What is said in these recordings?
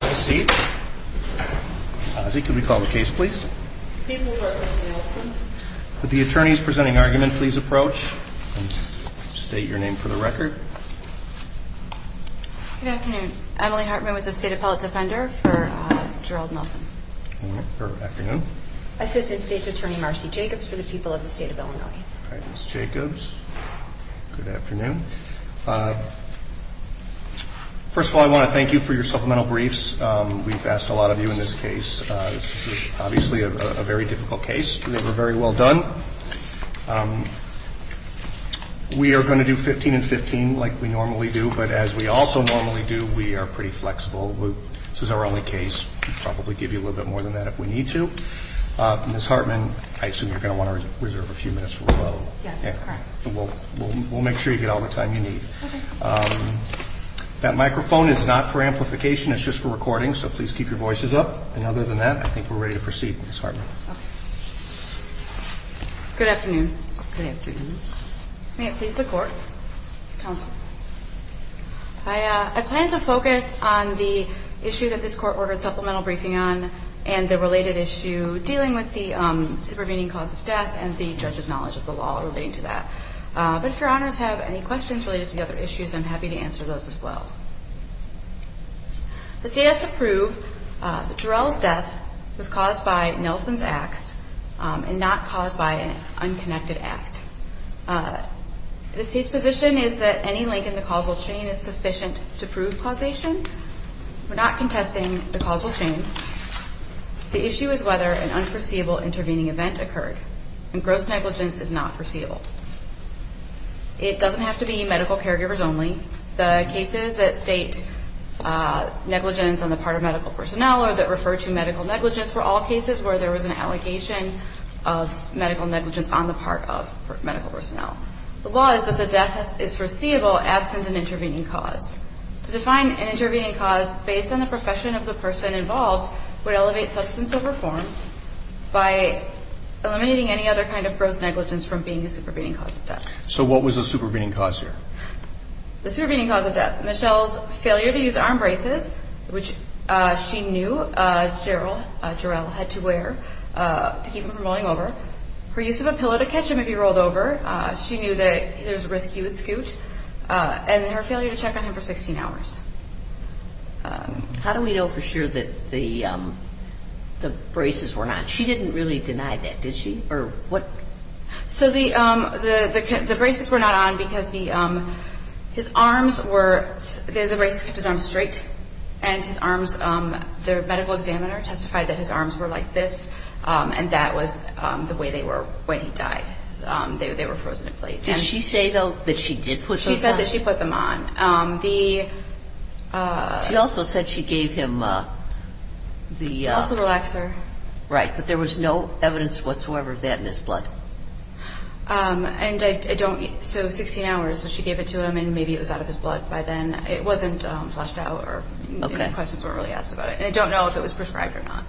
Good afternoon. I'm Emily Hartman with the State Appellate Defender for Gerald Nelson. Assistant State's Attorney Marcy Jacobs for the people of the State of Illinois. Ms. Jacobs, good afternoon. First of all, I want to thank you for your supplemental briefs. We've asked a lot of you in this case. This is obviously a very difficult case. I think we're very well done. We are going to do 15 and 15 like we normally do. But as we also normally do, we are pretty flexible. This is our only case. We'll probably give you a little bit more than that if we need to. Ms. Hartman, I assume you're going to want to reserve a few minutes for rebuttal. Yes, that's correct. We'll make sure you get all the time you need. Okay. That microphone is not for amplification. It's just for recording, so please keep your voices up. And other than that, I think we're ready to proceed, Ms. Hartman. Okay. Good afternoon. Good afternoon. May it please the Court? Counsel. I plan to focus on the issue that this Court ordered supplemental briefing on and the related issue dealing with the supervening cause of death and the judge's knowledge of the law relating to that. But if Your Honors have any questions related to the other issues, I'm happy to answer those as well. The state has to prove that Jarrell's death was caused by Nelson's axe and not caused by an unconnected act. The state's position is that any link in the causal chain is sufficient to prove causation. We're not contesting the causal chain. The issue is whether an unforeseeable intervening event occurred, and gross negligence is not foreseeable. It doesn't have to be medical caregivers only. The cases that state negligence on the part of medical personnel or that refer to medical negligence were all cases where there was an allegation of medical negligence on the part of medical personnel. The law is that the death is foreseeable absent an intervening cause. To define an intervening cause based on the profession of the person involved would elevate substance over form by eliminating any other kind of gross negligence from being the supervening cause of death. So what was the supervening cause here? The supervening cause of death. Michelle's failure to use arm braces, which she knew Jarrell had to wear to keep him from rolling over. Her use of a pillow to catch him if he rolled over. She knew that it was risky with Scoot. And her failure to check on him for 16 hours. How do we know for sure that the braces were not on? She didn't really deny that, did she? So the braces were not on because his arms were – the braces kept his arms straight. And his arms – the medical examiner testified that his arms were like this. And that was the way they were when he died. They were frozen in place. Did she say, though, that she did put those on? She said that she put them on. She also said she gave him the – Muscle relaxer. Right, but there was no evidence whatsoever of that in his blood. And I don't – so 16 hours, she gave it to him, and maybe it was out of his blood by then. It wasn't flushed out or any questions weren't really asked about it. And I don't know if it was prescribed or not.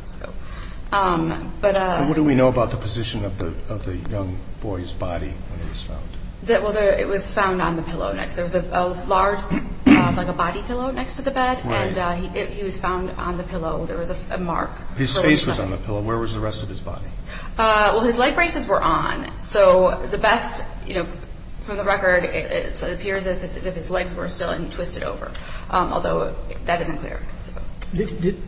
But – What do we know about the position of the young boy's body when it was found? Well, it was found on the pillow next – there was a large, like a body pillow next to the bed. Right. And he was found on the pillow. There was a mark. His face was on the pillow. Where was the rest of his body? Well, his leg braces were on. So the best – you know, for the record, it appears as if his legs were still and twisted over, although that isn't clear.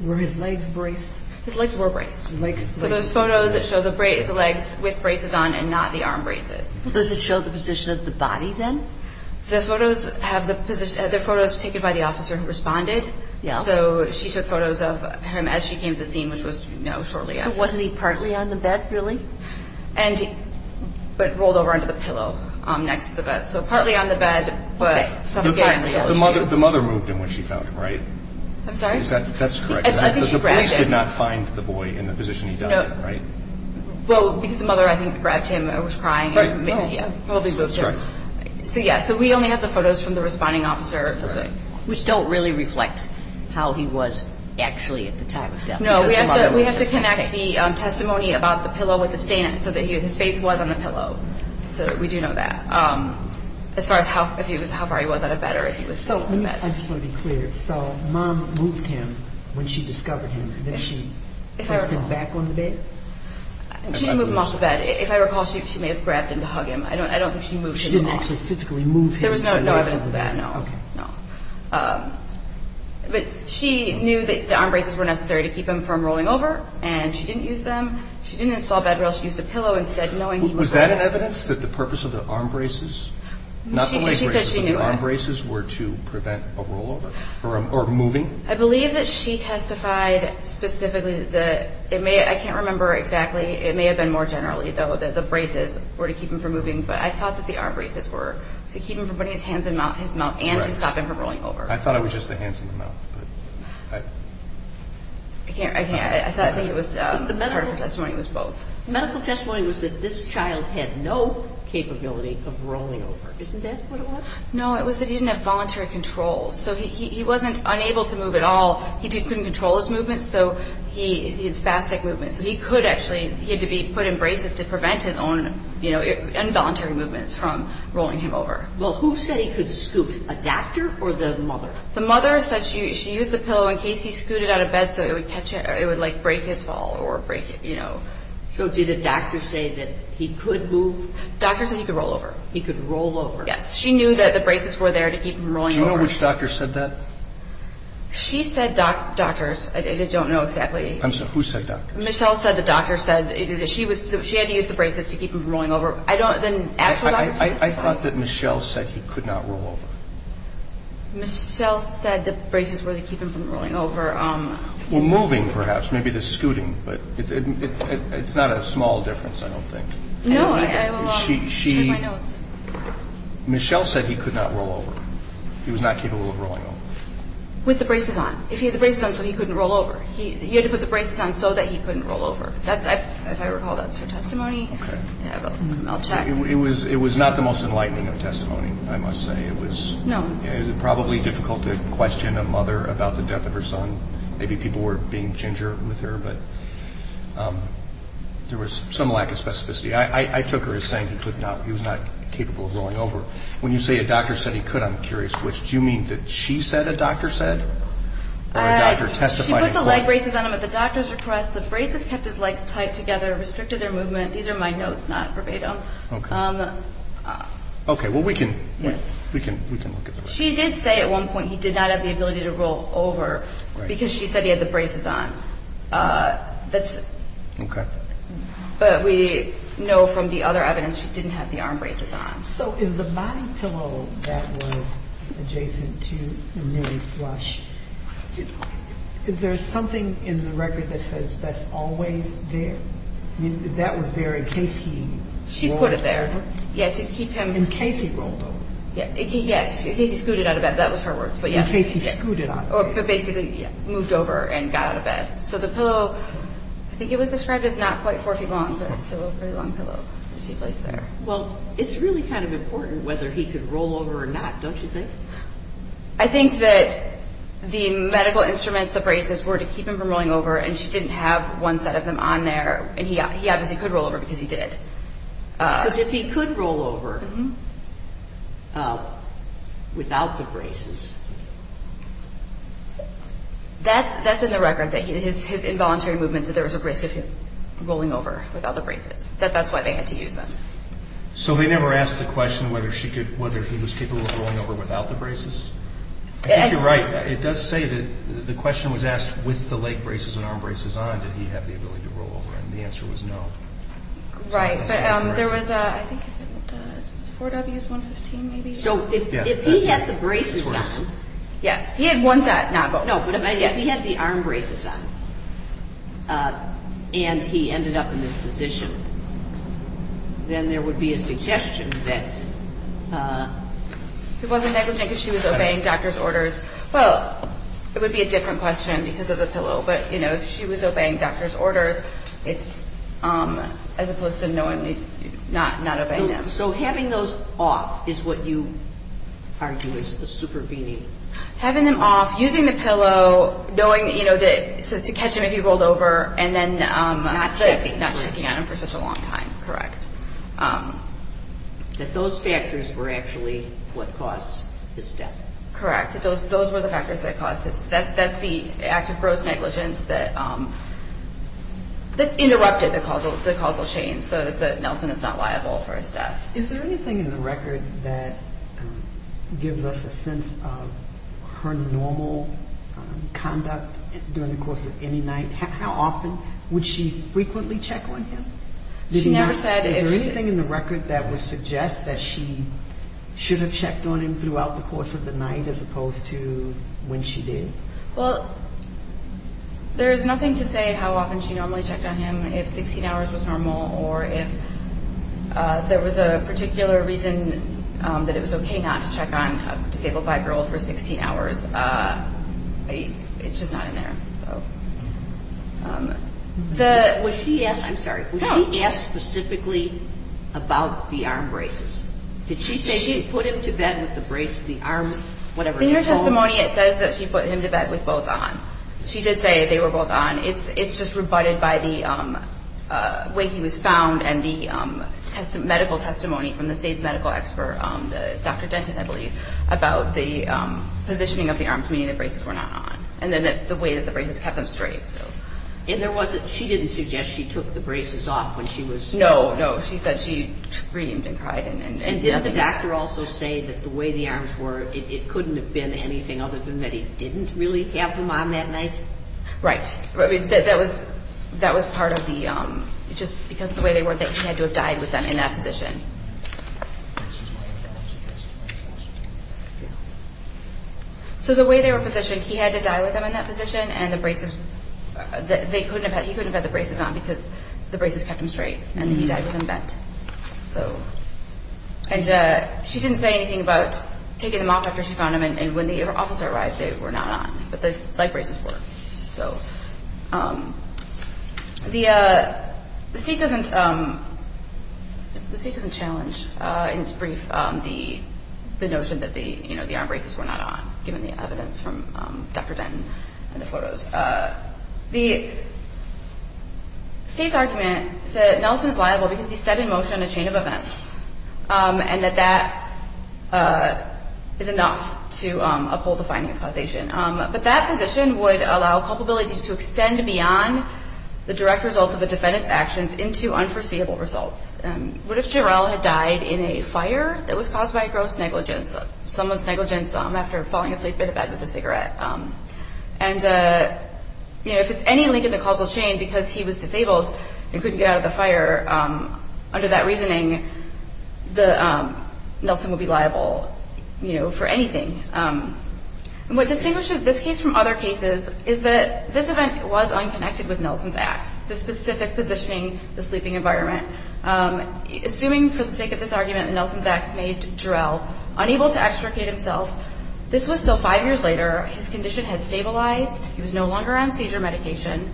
Were his legs braced? His legs were braced. So those photos show the legs with braces on and not the arm braces. Does it show the position of the body then? The photos have the – the photos were taken by the officer who responded. Yeah. So she took photos of him as she came to the scene, which was, you know, shortly after. So wasn't he partly on the bed, really? And – but rolled over onto the pillow next to the bed. So partly on the bed, but suffocatingly on the shoes. The mother moved him when she found him, right? I'm sorry? That's correct. I think she grabbed him. Because the police did not find the boy in the position he died in, right? Well, because the mother, I think, grabbed him and was crying. Right. Probably moved him. That's correct. So, yeah, so we only have the photos from the responding officers. Which don't really reflect how he was actually at the time of death. No, we have to connect the testimony about the pillow with the stain so that his face was on the pillow. So we do know that. As far as how far he was out of bed or if he was still on the bed. So let me – I just want to be clear. So mom moved him when she discovered him. Then she pressed him back on the bed? She didn't move him off the bed. If I recall, she may have grabbed him to hug him. I don't think she moved him off. She didn't actually physically move him. There was no evidence of that, no. Okay. No. But she knew that the arm braces were necessary to keep him from rolling over. And she didn't use them. She didn't install bed rails. She used a pillow instead, knowing he was on the bed. Was that an evidence that the purpose of the arm braces? Not the leg braces. She said she knew that. But the arm braces were to prevent a rollover or moving? I believe that she testified specifically that it may – I can't remember exactly. It may have been more generally, though, that the braces were to keep him from moving. But I thought that the arm braces were to keep him from putting his hands in his mouth and to stop him from rolling over. I thought it was just the hands in the mouth. I can't – I think it was – part of her testimony was both. The medical testimony was that this child had no capability of rolling over. Isn't that what it was? No, it was that he didn't have voluntary control. So he wasn't unable to move at all. He couldn't control his movements. So he had spastic movements. So he could actually – he had to be put in braces to prevent his own, you know, involuntary movements from rolling him over. Well, who said he could scoot, a doctor or the mother? The mother said she used the pillow in case he scooted out of bed so it would catch – it would, like, break his fall or break, you know. So did the doctor say that he could move? The doctor said he could roll over. He could roll over. Yes. She knew that the braces were there to keep him rolling over. Do you know which doctor said that? She said doctors. I don't know exactly. I'm sorry. Who said doctors? Michelle said the doctor said she was – she had to use the braces to keep him from rolling over. I don't – the actual doctor? I thought that Michelle said he could not roll over. Michelle said the braces were to keep him from rolling over. Well, moving perhaps, maybe the scooting. But it's not a small difference, I don't think. No, I will check my notes. Michelle said he could not roll over. He was not capable of rolling over. With the braces on. If he had the braces on, so he couldn't roll over. He had to put the braces on so that he couldn't roll over. If I recall, that's her testimony. Okay. I'll check. It was not the most enlightening of testimony, I must say. No. It was probably difficult to question a mother about the death of her son. Maybe people were being ginger with her, but there was some lack of specificity. I took her as saying he could not – he was not capable of rolling over. When you say a doctor said he could, I'm curious, which do you mean that she said a doctor said or a doctor testified in court? She put the leg braces on him at the doctor's request. The braces kept his legs tight together, restricted their movement. These are my notes, not verbatim. Okay. Okay, well, we can look at that. She did say at one point he did not have the ability to roll over because she said he had the braces on. Okay. But we know from the other evidence he didn't have the arm braces on. So is the body pillow that was adjacent to Mary Flush, is there something in the record that says that's always there? That was there in case he rolled over? She put it there, yeah, to keep him – In case he rolled over. Yeah, in case he scooted out of bed. That was her words, but yeah. In case he scooted out of bed. But basically moved over and got out of bed. So the pillow, I think it was described as not quite four feet long, but still a very long pillow that she placed there. Well, it's really kind of important whether he could roll over or not, don't you think? I think that the medical instruments, the braces, were to keep him from rolling over, and she didn't have one set of them on there. And he obviously could roll over because he did. Because if he could roll over without the braces. That's in the record, his involuntary movements, that there was a risk of him rolling over without the braces, that that's why they had to use them. So they never asked the question whether he was capable of rolling over without the braces? I think you're right. It does say that the question was asked with the leg braces and arm braces on, did he have the ability to roll over, and the answer was no. Right. But there was, I think it was 4Ws, 115 maybe. So if he had the braces on. Yes. He had one set, not both. No, but if he had the arm braces on, and he ended up in this position, then there would be a suggestion that. It wasn't negligent because she was obeying doctor's orders. Well, it would be a different question because of the pillow. But, you know, if she was obeying doctor's orders, as opposed to not obeying them. So having those off is what you argue is a super beanie. Having them off, using the pillow, knowing, you know, to catch him if he rolled over, and then not checking on him for such a long time, correct. That those factors were actually what caused his death. Correct. Those were the factors that caused his death. That's the act of gross negligence that interrupted the causal chain. So Nelson is not liable for his death. Is there anything in the record that gives us a sense of her normal conduct during the course of any night? How often would she frequently check on him? She never said if. Is there anything in the record that would suggest that she should have checked on him throughout the course of the night as opposed to when she did? Well, there is nothing to say how often she normally checked on him, if 16 hours was normal or if there was a particular reason that it was okay not to check on a disabled black girl for 16 hours. It's just not in there. Was she asked specifically about the arm braces? Did she say she put him to bed with the brace, the arm, whatever? In her testimony, it says that she put him to bed with both on. She did say they were both on. It's just rebutted by the way he was found and the medical testimony from the state's medical expert, Dr. Denton, I believe, about the positioning of the arms, meaning the braces were not on, and then the way that the braces kept him straight. And she didn't suggest she took the braces off when she was... No, no. She said she screamed and cried. And didn't the doctor also say that the way the arms were, it couldn't have been anything other than that he didn't really have them on that night? Right. That was part of the... Just because of the way they were that he had to have died with them in that position. So the way they were positioned, he had to die with them in that position and the braces... He couldn't have had the braces on because the braces kept him straight and he died with them bent. So... And she didn't say anything about taking them off after she found them And when the officer arrived, they were not on, but the light braces were. So the state doesn't challenge in its brief the notion that the arm braces were not on, given the evidence from Dr. Denton and the photos. The state's argument is that Nelson is liable because he set in motion a chain of events and that that is enough to uphold the finding of causation. But that position would allow culpability to extend beyond the direct results of a defendant's actions into unforeseeable results. What if Jarrell had died in a fire that was caused by a gross negligence? Someone's negligence after falling asleep in a bed with a cigarette. And if it's any link in the causal chain, because he was disabled, he couldn't get out of the fire, under that reasoning, Nelson would be liable for anything. What distinguishes this case from other cases is that this event was unconnected with Nelson's acts, the specific positioning, the sleeping environment. Assuming for the sake of this argument that Nelson's acts made Jarrell unable to extricate himself, this was so five years later, his condition had stabilized, he was no longer on seizure medication,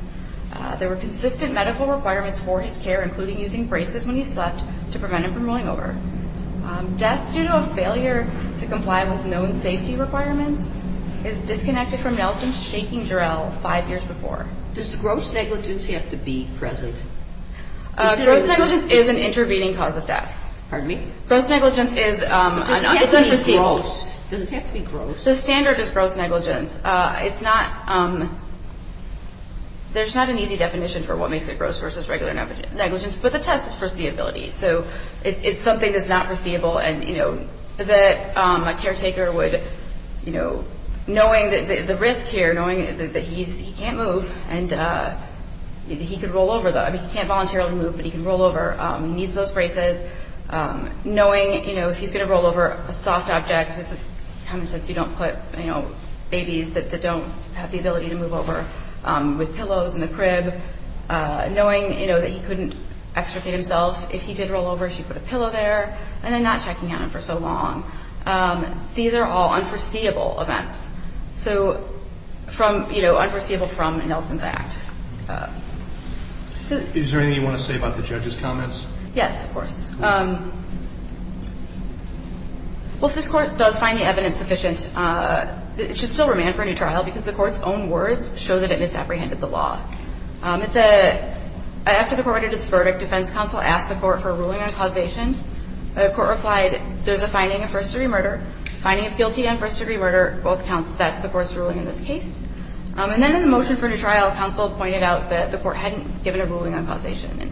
there were consistent medical requirements for his care, including using braces when he slept to prevent him from rolling over. Death due to a failure to comply with known safety requirements is disconnected from Nelson shaking Jarrell five years before. Does gross negligence have to be present? Gross negligence is an intervening cause of death. Pardon me? Gross negligence is unforeseeable. Does it have to be gross? The standard is gross negligence. It's not, there's not an easy definition for what makes it gross versus regular negligence, but the test is foreseeability. So it's something that's not foreseeable and, you know, that a caretaker would, you know, knowing the risk here, knowing that he can't move and he could roll over, I mean, he can't voluntarily move, but he can roll over, he needs those braces, knowing, you know, if he's going to roll over, a soft object, this is common sense, you don't put, you know, babies that don't have the ability to move over with pillows in the crib, knowing, you know, that he couldn't extricate himself. If he did roll over, she put a pillow there, and then not checking on him for so long. These are all unforeseeable events. So from, you know, unforeseeable from Nelson's act. Is there anything you want to say about the judge's comments? Yes, of course. Well, if this Court does find the evidence sufficient, it should still remain for a new trial because the Court's own words show that it misapprehended the law. It's a – after the Court read its verdict, defense counsel asked the Court for a ruling on causation. The Court replied, there's a finding of first-degree murder, finding of guilty on first-degree murder, both counts, that's the Court's ruling in this case. And then in the motion for a new trial, counsel pointed out that the Court hadn't given a ruling on causation.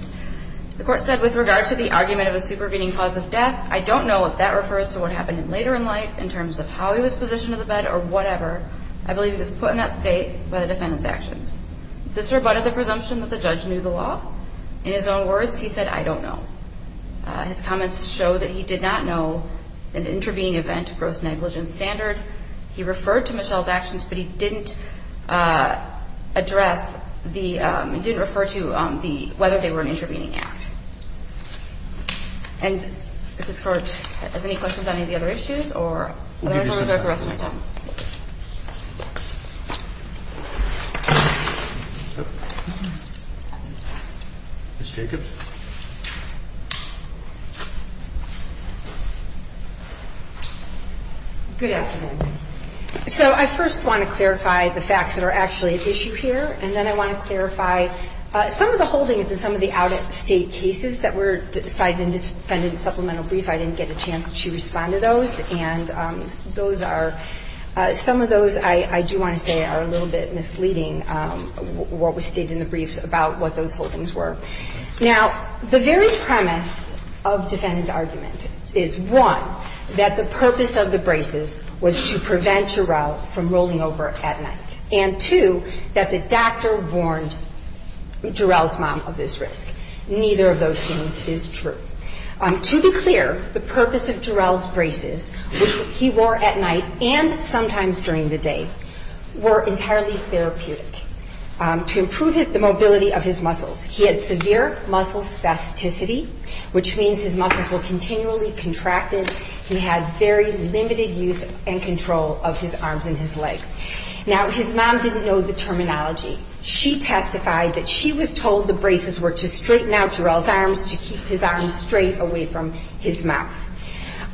The Court said, with regard to the argument of a supervening cause of death, I don't know if that refers to what happened later in life in terms of how he was positioned in the bed or whatever. I believe it was put in that state by the defendant's actions. This rebutted the presumption that the judge knew the law. In his own words, he said, I don't know. His comments show that he did not know an intervening event, gross negligence standard. He referred to Michelle's actions, but he didn't address the – He referred to the fact that the defense counsel had not yet determined whether they were an intervening act. And does this Court – does any questions on any of the other issues, or – We'll give you some time. Otherwise, I'll reserve the rest of my time. Ms. Jacobs. Good afternoon. So I first want to clarify the facts that are actually at issue here, and then I want to clarify some of the holdings in some of the out-of-state cases that were cited in defendant's supplemental brief. I didn't get a chance to respond to those. And those are – some of those, I do want to say, are a little bit misleading, what was stated in the briefs about what those holdings were. Now, the very premise of defendant's argument is, one, that the purpose of the braces was to prevent Jarrell from rolling over at night. And, two, that the doctor warned Jarrell's mom of this risk. Neither of those things is true. To be clear, the purpose of Jarrell's braces, which he wore at night and sometimes during the day, were entirely therapeutic to improve the mobility of his muscles. He had severe muscle spasticity, which means his muscles were continually contracted. He had very limited use and control of his arms and his legs. Now, his mom didn't know the terminology. She testified that she was told the braces were to straighten out Jarrell's arms, to keep his arms straight away from his mouth.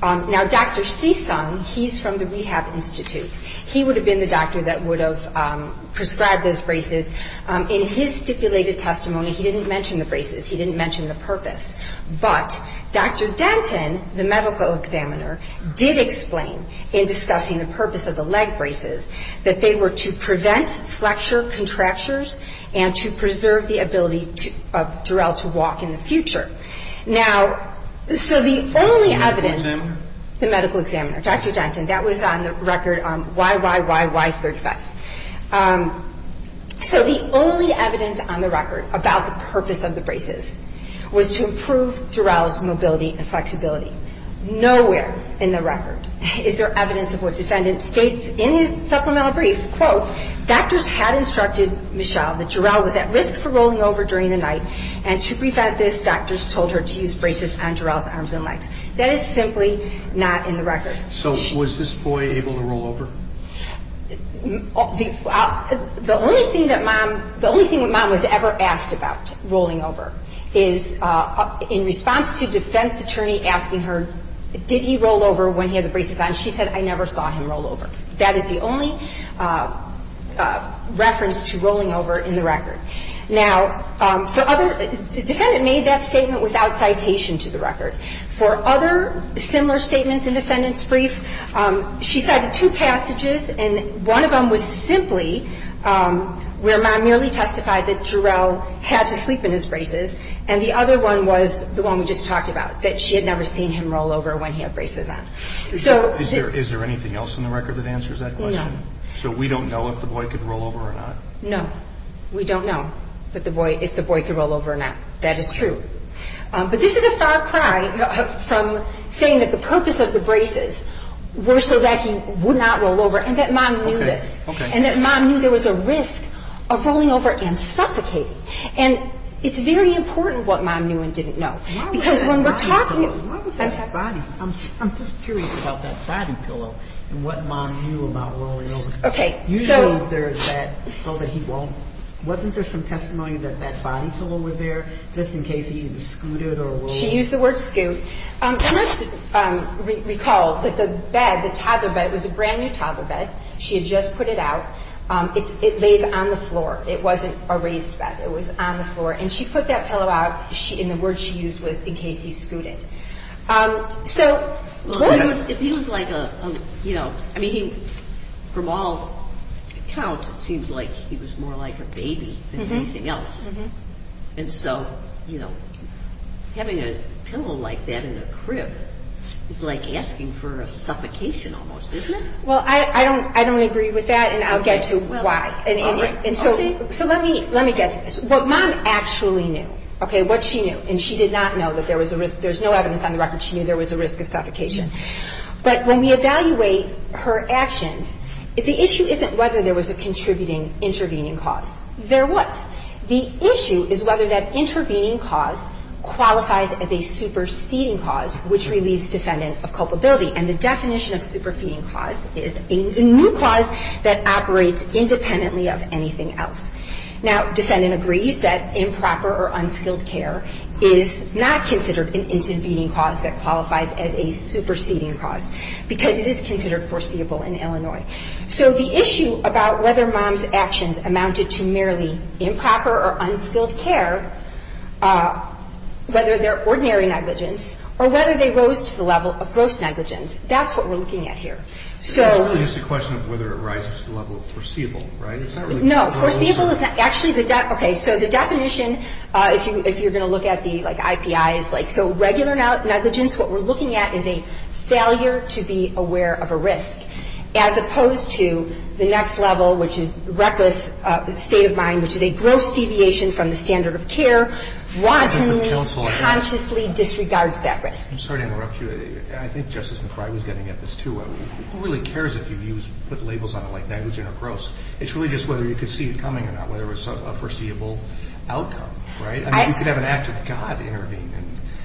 Now, Dr. Seesong, he's from the Rehab Institute. He would have been the doctor that would have prescribed those braces. In his stipulated testimony, he didn't mention the braces. He didn't mention the purpose. But Dr. Denton, the medical examiner, did explain, in discussing the purpose of the leg braces, that they were to prevent flexure contractures and to preserve the ability of Jarrell to walk in the future. Now, so the only evidence, the medical examiner, Dr. Denton, that was on the record on YYYY35. was to improve Jarrell's mobility and flexibility. Nowhere in the record is there evidence of what the defendant states in his supplemental brief. Quote, doctors had instructed Michelle that Jarrell was at risk for rolling over during the night, and to prevent this, doctors told her to use braces on Jarrell's arms and legs. That is simply not in the record. So was this boy able to roll over? The only thing that mom, the only thing that mom was ever asked about, rolling over, is in response to defense attorney asking her, did he roll over when he had the braces on? She said, I never saw him roll over. That is the only reference to rolling over in the record. Now, for other, the defendant made that statement without citation to the record. For other similar statements in defendant's brief, she cited two passages, and one of them was simply where mom merely testified that Jarrell had to sleep in his braces, and the other one was the one we just talked about, that she had never seen him roll over when he had braces on. Is there anything else in the record that answers that question? No. So we don't know if the boy could roll over or not? No. We don't know if the boy could roll over or not. That is true. But this is a far cry from saying that the purpose of the braces were so that he would not roll over, and that mom knew this. Okay. And that mom knew there was a risk of rolling over and suffocating. And it's very important what mom knew and didn't know. Why was that body pillow? I'm just curious about that body pillow and what mom knew about rolling over. Okay. Usually there is that so that he won't. Wasn't there some testimony that that body pillow was there just in case he either scooted or rolled? She used the word scoot. And let's recall that the bed, the toddler bed, was a brand-new toddler bed. She had just put it out. It lays on the floor. It wasn't a raised bed. It was on the floor. And she put that pillow out, and the word she used was in case he scooted. Well, if he was like a, you know, I mean, from all accounts, it seems like he was more like a baby than anything else. And so, you know, having a pillow like that in a crib is like asking for a suffocation almost, isn't it? Well, I don't agree with that, and I'll get to why. All right. Okay. So let me get to this. What mom actually knew, okay, what she knew, and she did not know that there was a risk. There's no evidence on the record she knew there was a risk of suffocation. But when we evaluate her actions, the issue isn't whether there was a contributing intervening cause. There was. The issue is whether that intervening cause qualifies as a superseding cause, which relieves defendant of culpability. And the definition of superseding cause is a new cause that operates independently of anything else. Now, defendant agrees that improper or unskilled care is not considered an intervening cause that qualifies as a superseding cause because it is considered foreseeable in Illinois. So the issue about whether mom's actions amounted to merely improper or unskilled care, whether they're ordinary negligence or whether they rose to the level of gross negligence, that's what we're looking at here. So. It's really just a question of whether it rises to the level of foreseeable, right? It's not really. No, foreseeable is not. Actually, the. Okay. So the definition, if you're going to look at the, like, IPIs, like, so regular negligence, what we're looking at is a failure to be aware of a risk as opposed to the next level, which is reckless state of mind, which is a gross deviation from the standard of care, wantonly, consciously disregards that risk. I'm sorry to interrupt you. I think Justice McCrrye was getting at this, too. Who really cares if you put labels on it like negligent or gross? It's really just whether you could see it coming or not, whether it was a foreseeable outcome, right? I mean, you could have an act of God intervene.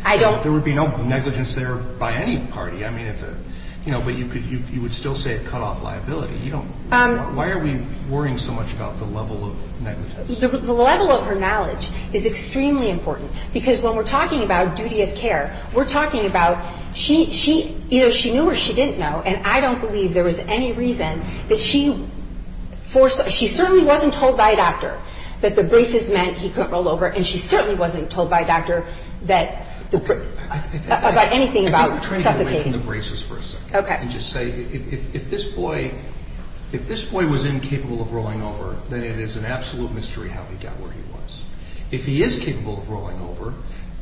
I don't. There would be no negligence there by any party. I mean, it's a, you know, but you would still say a cutoff liability. You don't. Why are we worrying so much about the level of negligence? The level of her knowledge is extremely important because when we're talking about duty of care, we're talking about she either knew or she didn't know, and I don't believe there was any reason that she certainly wasn't told by a doctor that the braces meant he couldn't roll over, and she certainly wasn't told by a doctor about anything about suffocating. I think I'm trying to get away from the braces for a second. Okay. And just say if this boy was incapable of rolling over, then it is an absolute mystery how he got where he was. If he is capable of rolling over,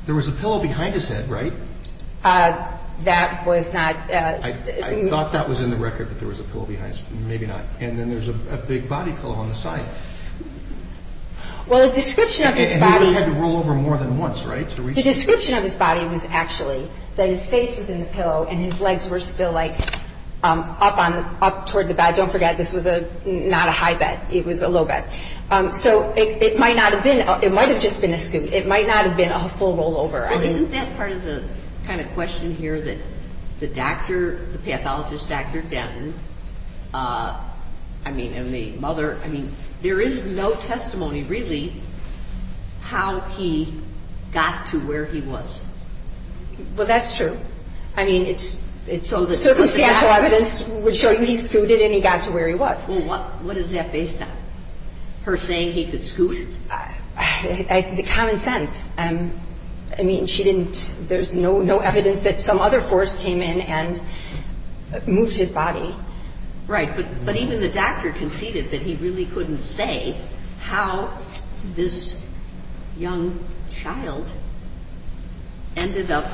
there was a pillow behind his head, right? That was not. I thought that was in the record that there was a pillow behind his head. Maybe not. And then there's a big body pillow on the side. Well, the description of his body. And he only had to roll over more than once, right? The description of his body was actually that his face was in the pillow and his legs were still, like, up toward the back. Don't forget, this was not a high back. It was a low back. So it might not have been. It might have just been a scoot. It might not have been a full rollover. Well, isn't that part of the kind of question here that the doctor, the pathologist, Dr. Denton, I mean, and the mother, I mean, there is no testimony really how he got to where he was. Well, that's true. I mean, it's circumstantial evidence would show he scooted and he got to where he was. Well, what is that based on? Her saying he could scoot? Common sense. I mean, she didn't, there's no evidence that some other force came in and moved his body. Right, but even the doctor conceded that he really couldn't say how this young child ended up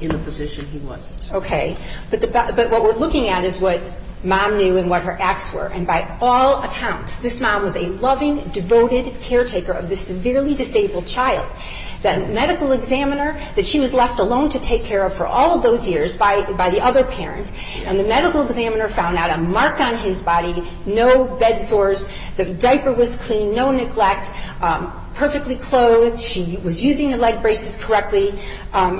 in the position he was. Okay. But what we're looking at is what mom knew and what her acts were. And by all accounts, this mom was a loving, devoted caretaker of this severely disabled child. That medical examiner that she was left alone to take care of for all of those years by the other parents, and the medical examiner found out a mark on his body, no bed sores. The diaper was clean, no neglect, perfectly clothed. She was using the leg braces correctly.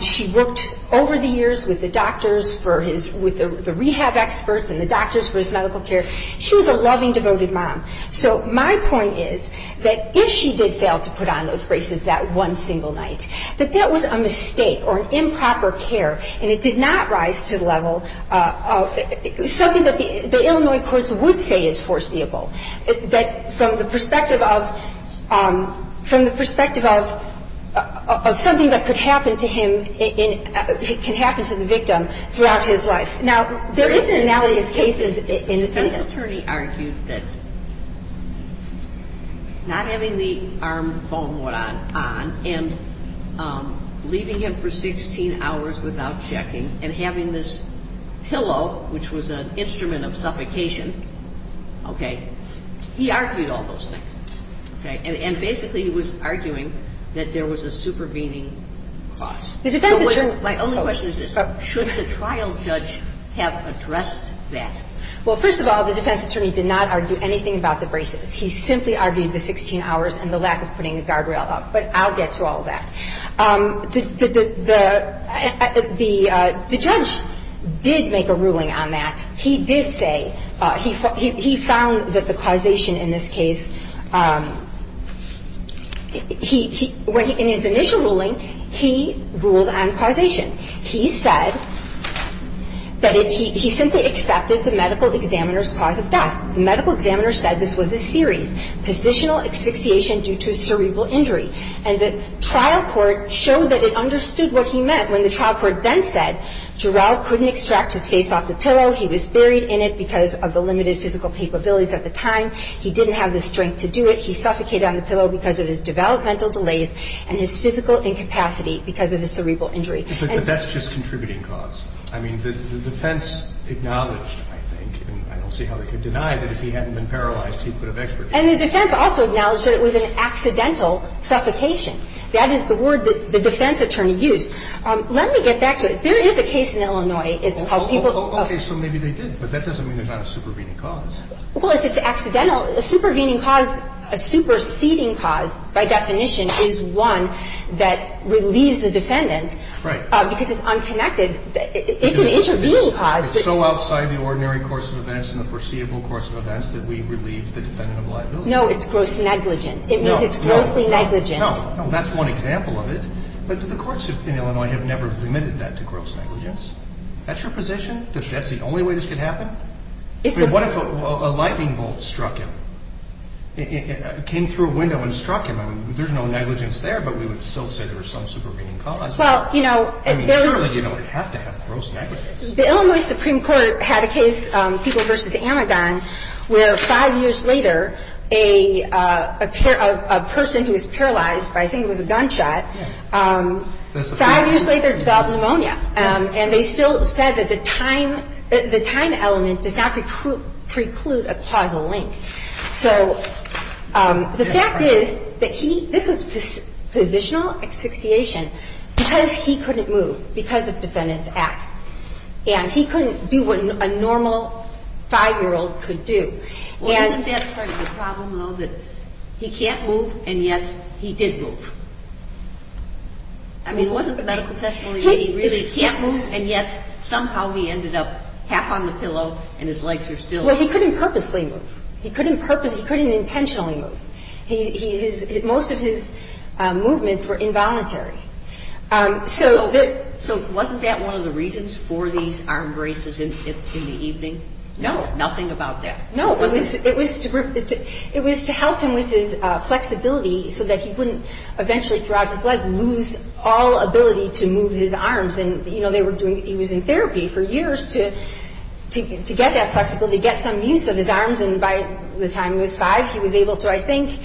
She worked over the years with the doctors for his, with the rehab experts and the doctors for his medical care. She was a loving, devoted mom. So my point is that if she did fail to put on those braces that one single night, that that was a mistake or an improper care, and it did not rise to the level of something that the Illinois courts would say is foreseeable. That from the perspective of, from the perspective of, of something that could happen to him in, could happen to the victim throughout his life. Now, there is an analogous case in this. This attorney argued that not having the arm foam on and leaving him for 16 hours without checking and having this pillow, which was an instrument of suffocation, okay, he argued all those things, okay. And basically he was arguing that there was a supervening cause. The defense attorney My only question is this. Should the trial judge have addressed that? Well, first of all, the defense attorney did not argue anything about the braces. He simply argued the 16 hours and the lack of putting a guardrail up. But I'll get to all that. The judge did make a ruling on that. He did say, he found that the causation in this case, he, when he, in his initial ruling, he ruled on causation. He said that he simply accepted the medical examiner's cause of death. The medical examiner said this was a series, positional asphyxiation due to cerebral injury, and the trial court showed that it understood what he meant when the trial court then said, Gerald couldn't extract his face off the pillow. He was buried in it because of the limited physical capabilities at the time. He didn't have the strength to do it. He suffocated on the pillow because of his developmental delays and his physical incapacity because of his cerebral injury. But that's just contributing cause. I mean, the defense acknowledged, I think, and I don't see how they could deny that if he hadn't been paralyzed, he could have expertise. And the defense also acknowledged that it was an accidental suffocation. That is the word that the defense attorney used. Let me get back to it. There is a case in Illinois. It's called people. Okay. So maybe they did, but that doesn't mean there's not a supervening cause. Well, if it's accidental, a supervening cause, a superseding cause, by definition, is one that relieves the defendant. Right. Because it's unconnected. It's an intervening cause. It's so outside the ordinary course of events and the foreseeable course of events that we relieve the defendant of liability. No, it's gross negligent. It means it's grossly negligent. No. No. No. Well, that's one example of it. But the courts in Illinois have never admitted that to gross negligence. That's your position? That that's the only way this could happen? I mean, what if a lightning bolt struck him, came through a window and struck him? I mean, there's no negligence there, but we would still say there was some supervening cause. Well, you know, there was – I mean, surely you don't have to have gross negligence. The Illinois Supreme Court had a case, people versus Amagon, where five years later a person who was paralyzed by, I think it was a gunshot, five years later developed pneumonia. And they still said that the time element does not preclude a causal link. So the fact is that he – this was positional asphyxiation because he couldn't move because of defendant's acts. And he couldn't do what a normal five-year-old could do. Well, isn't that part of the problem, though, that he can't move and, yes, he did move? I mean, wasn't the medical testimony that he really can't move and, yes, somehow he ended up half on the pillow and his legs are still – Well, he couldn't purposely move. He couldn't intentionally move. Most of his movements were involuntary. So wasn't that one of the reasons for these arm braces in the evening? No. Nothing about that. No. It was to help him with his flexibility so that he wouldn't eventually throughout his life lose all ability to move his arms. And, you know, they were doing – he was in therapy for years to get that flexibility, get some use of his arms. And by the time he was five, he was able to, I think,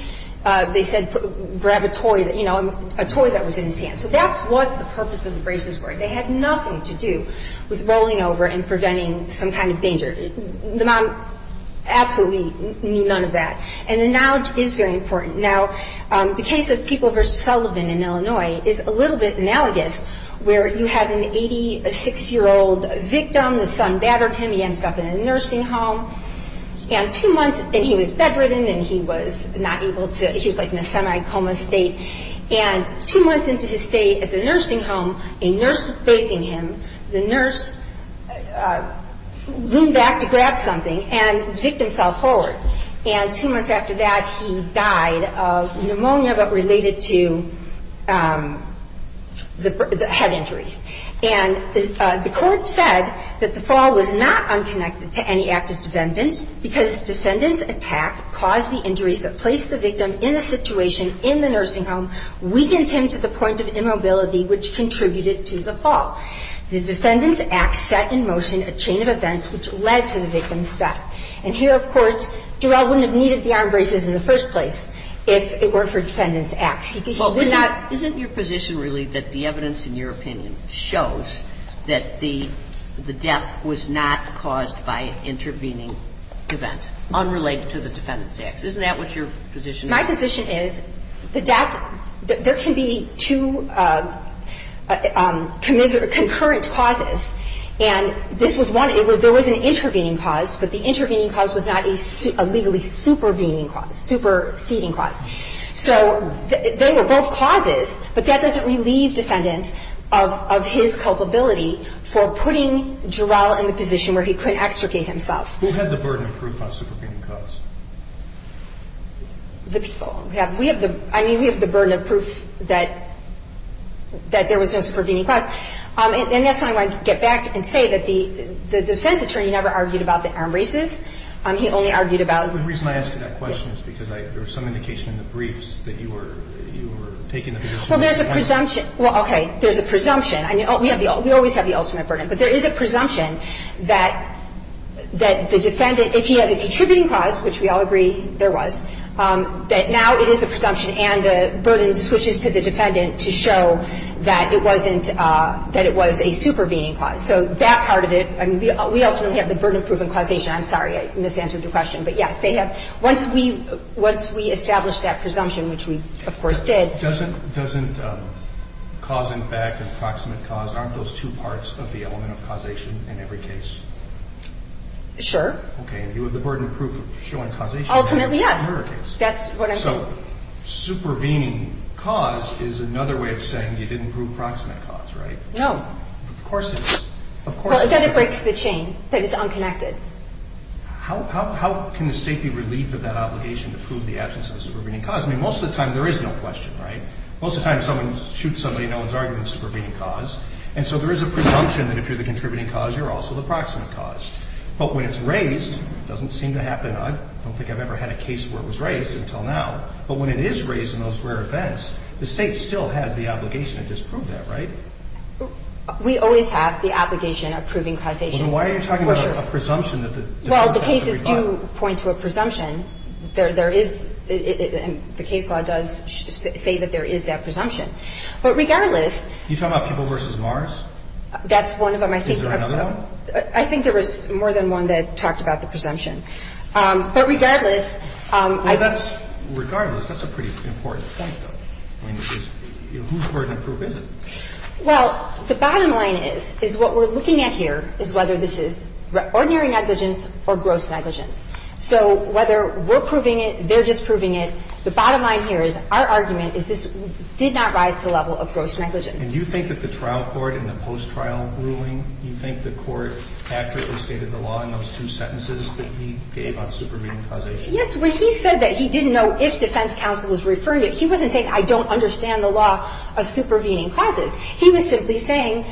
they said, grab a toy, you know, a toy that was in his hand. So that's what the purpose of the braces were. They had nothing to do with rolling over and preventing some kind of danger. The mom absolutely knew none of that. And the knowledge is very important. Now, the case of People v. Sullivan in Illinois is a little bit analogous where you have an 86-year-old victim. The son battered him. He ended up in a nursing home. And two months – and he was bedridden and he was not able to – he was like in a semi-coma state. And two months into his stay at the nursing home, a nurse was bathing him. The nurse leaned back to grab something and the victim fell forward. And two months after that, he died of pneumonia but related to the head injuries. And the court said that the fall was not unconnected to any active defendants because defendants' attack caused the injuries that placed the victim in the situation in the nursing home weakened him to the point of immobility which contributed to the fall. The defendants' acts set in motion a chain of events which led to the victim's death. And here, of course, Durrell wouldn't have needed the arm braces in the first place if it weren't for defendants' acts. He would not – Well, isn't your position really that the evidence in your opinion shows that the death was not caused by intervening events unrelated to the defendants' acts? Isn't that what your position is? My position is the death – there can be two concurrent causes. And this was one. There was an intervening cause, but the intervening cause was not a legally supervening cause, superceding cause. So they were both causes, but that doesn't relieve defendant of his culpability for putting Durrell in the position where he could extricate himself. Who had the burden of proof on supervening cause? The people. I mean, we have the burden of proof that there was no supervening cause. And that's why I want to get back and say that the defense attorney never argued about the arm braces. He only argued about – The only reason I ask you that question is because there was some indication in the briefs that you were taking the position. Well, there's a presumption. Well, okay. There's a presumption. I mean, we always have the ultimate burden. But there is a presumption that the defendant, if he had the attributing cause, which we all agree there was, that now it is a presumption and the burden switches to the defendant to show that it wasn't – that it was a supervening cause. So that part of it – I mean, we also have the burden of proof and causation. I'm sorry. I misanswered your question. But, yes, they have – once we establish that presumption, which we, of course, did. Doesn't cause and fact and proximate cause, aren't those two parts of the element of causation in every case? Sure. Okay. And you have the burden of proof showing causation in every case. Ultimately, yes. That's what I'm saying. So supervening cause is another way of saying you didn't prove proximate cause, right? No. Of course it is. Of course it is. Well, again, it breaks the chain. That it's unconnected. How can the State be relieved of that obligation to prove the absence of a supervening cause? I mean, most of the time there is no question, right? Most of the time someone shoots somebody and no one's arguing the supervening cause. And so there is a presumption that if you're the contributing cause, you're also the proximate cause. But when it's raised, it doesn't seem to happen. I don't think I've ever had a case where it was raised until now. But when it is raised in those rare events, the State still has the obligation to disprove that, right? We always have the obligation of proving causation. Well, then why are you talking about a presumption that the defense has to rebut? Well, the cases do point to a presumption. There is – the case law does say that there is that presumption. But regardless – Are you talking about people versus Mars? That's one of them. Is there another one? I think there was more than one that talked about the presumption. But regardless – Well, that's – regardless, that's a pretty important point, though. I mean, whose burden of proof is it? Well, the bottom line is, is what we're looking at here is whether this is ordinary negligence or gross negligence. So whether we're proving it, they're just proving it, the bottom line here is our argument is this did not rise to the level of gross negligence. And you think that the trial court in the post-trial ruling, you think the court accurately stated the law in those two sentences that he gave on supervening causation? Yes. When he said that he didn't know if defense counsel was referring to it, he wasn't saying, I don't understand the law of supervening causes. He was simply saying,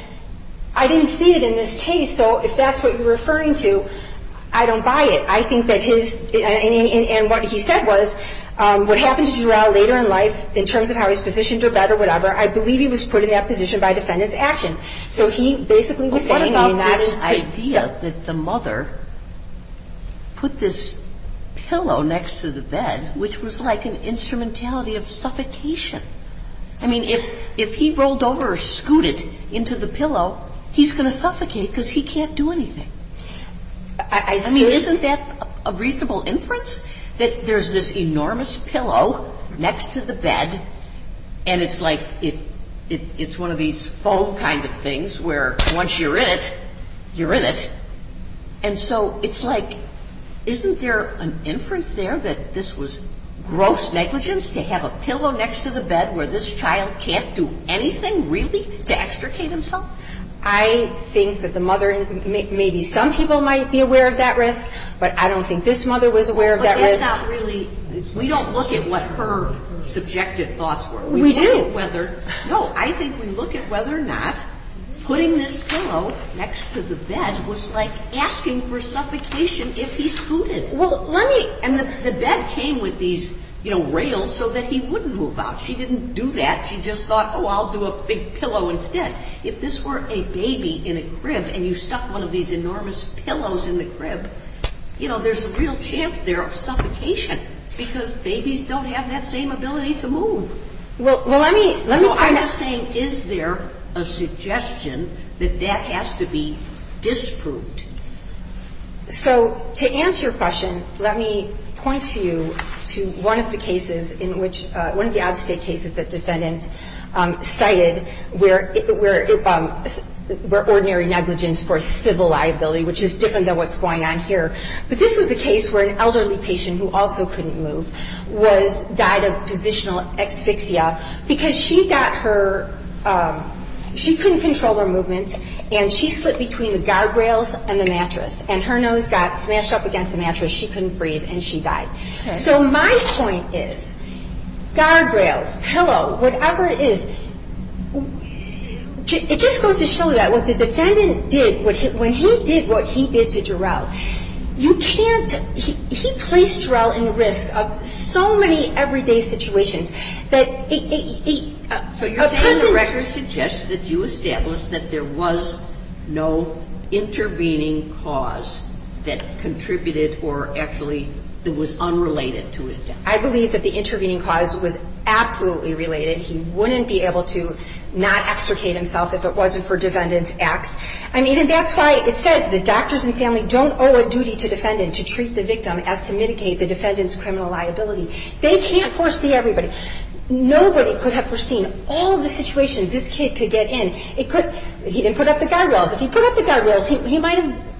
I didn't see it in this case, so if that's what you're referring to, I don't buy it. I think that his – and what he said was, what happens to Durell later in life in terms of how he's positioned or better, whatever, I believe he was put in that position by defendant's actions. So he basically was saying – Well, what about this idea that the mother put this pillow next to the bed, which was like an instrumentality of suffocation? I mean, if he rolled over or scooted into the pillow, he's going to suffocate because he can't do anything. I mean, isn't that a reasonable inference, that there's this enormous pillow next to the bed, and it's like it's one of these foam kind of things where once you're in it, you're in it? And so it's like, isn't there an inference there that this was gross negligence to have a pillow next to the bed where this child can't do anything really to extricate himself? I think that the mother – maybe some people might be aware of that risk, but I don't think this mother was aware of that risk. But that's not really – we don't look at what her subjective thoughts were. We do. No, I think we look at whether or not putting this pillow next to the bed was like asking for suffocation if he scooted. Well, let me – And the bed came with these rails so that he wouldn't move out. She didn't do that. She just thought, oh, I'll do a big pillow instead. If this were a baby in a crib and you stuck one of these enormous pillows in the crib, there's a real chance there of suffocation because babies don't have that same ability to move. Well, let me – So I'm just saying, is there a suggestion that that has to be disproved? So to answer your question, let me point to you to one of the cases in which – one of the out-of-state cases that defendant cited where ordinary negligence for civil liability, which is different than what's going on here. But this was a case where an elderly patient who also couldn't move died of positional asphyxia because she got her – she couldn't control her movement, and she split between the guardrails and the mattress. And her nose got smashed up against the mattress. She couldn't breathe, and she died. So my point is guardrails, pillow, whatever it is, it just goes to show you that what the defendant did – when he did what he did to Jarrell, you can't – he placed Jarrell in risk of so many everyday situations that he – So you're saying the record suggests that you established that there was no intervening cause that contributed or actually that was unrelated to his death? I believe that the intervening cause was absolutely related. He wouldn't be able to not extricate himself if it wasn't for defendant's acts. I mean, and that's why it says the doctors and family don't owe a duty to defendant to treat the victim as to mitigate the defendant's criminal liability. They can't foresee everybody. Nobody could have foreseen all the situations this kid could get in. It could – he didn't put up the guardrails. If he put up the guardrails, he might have –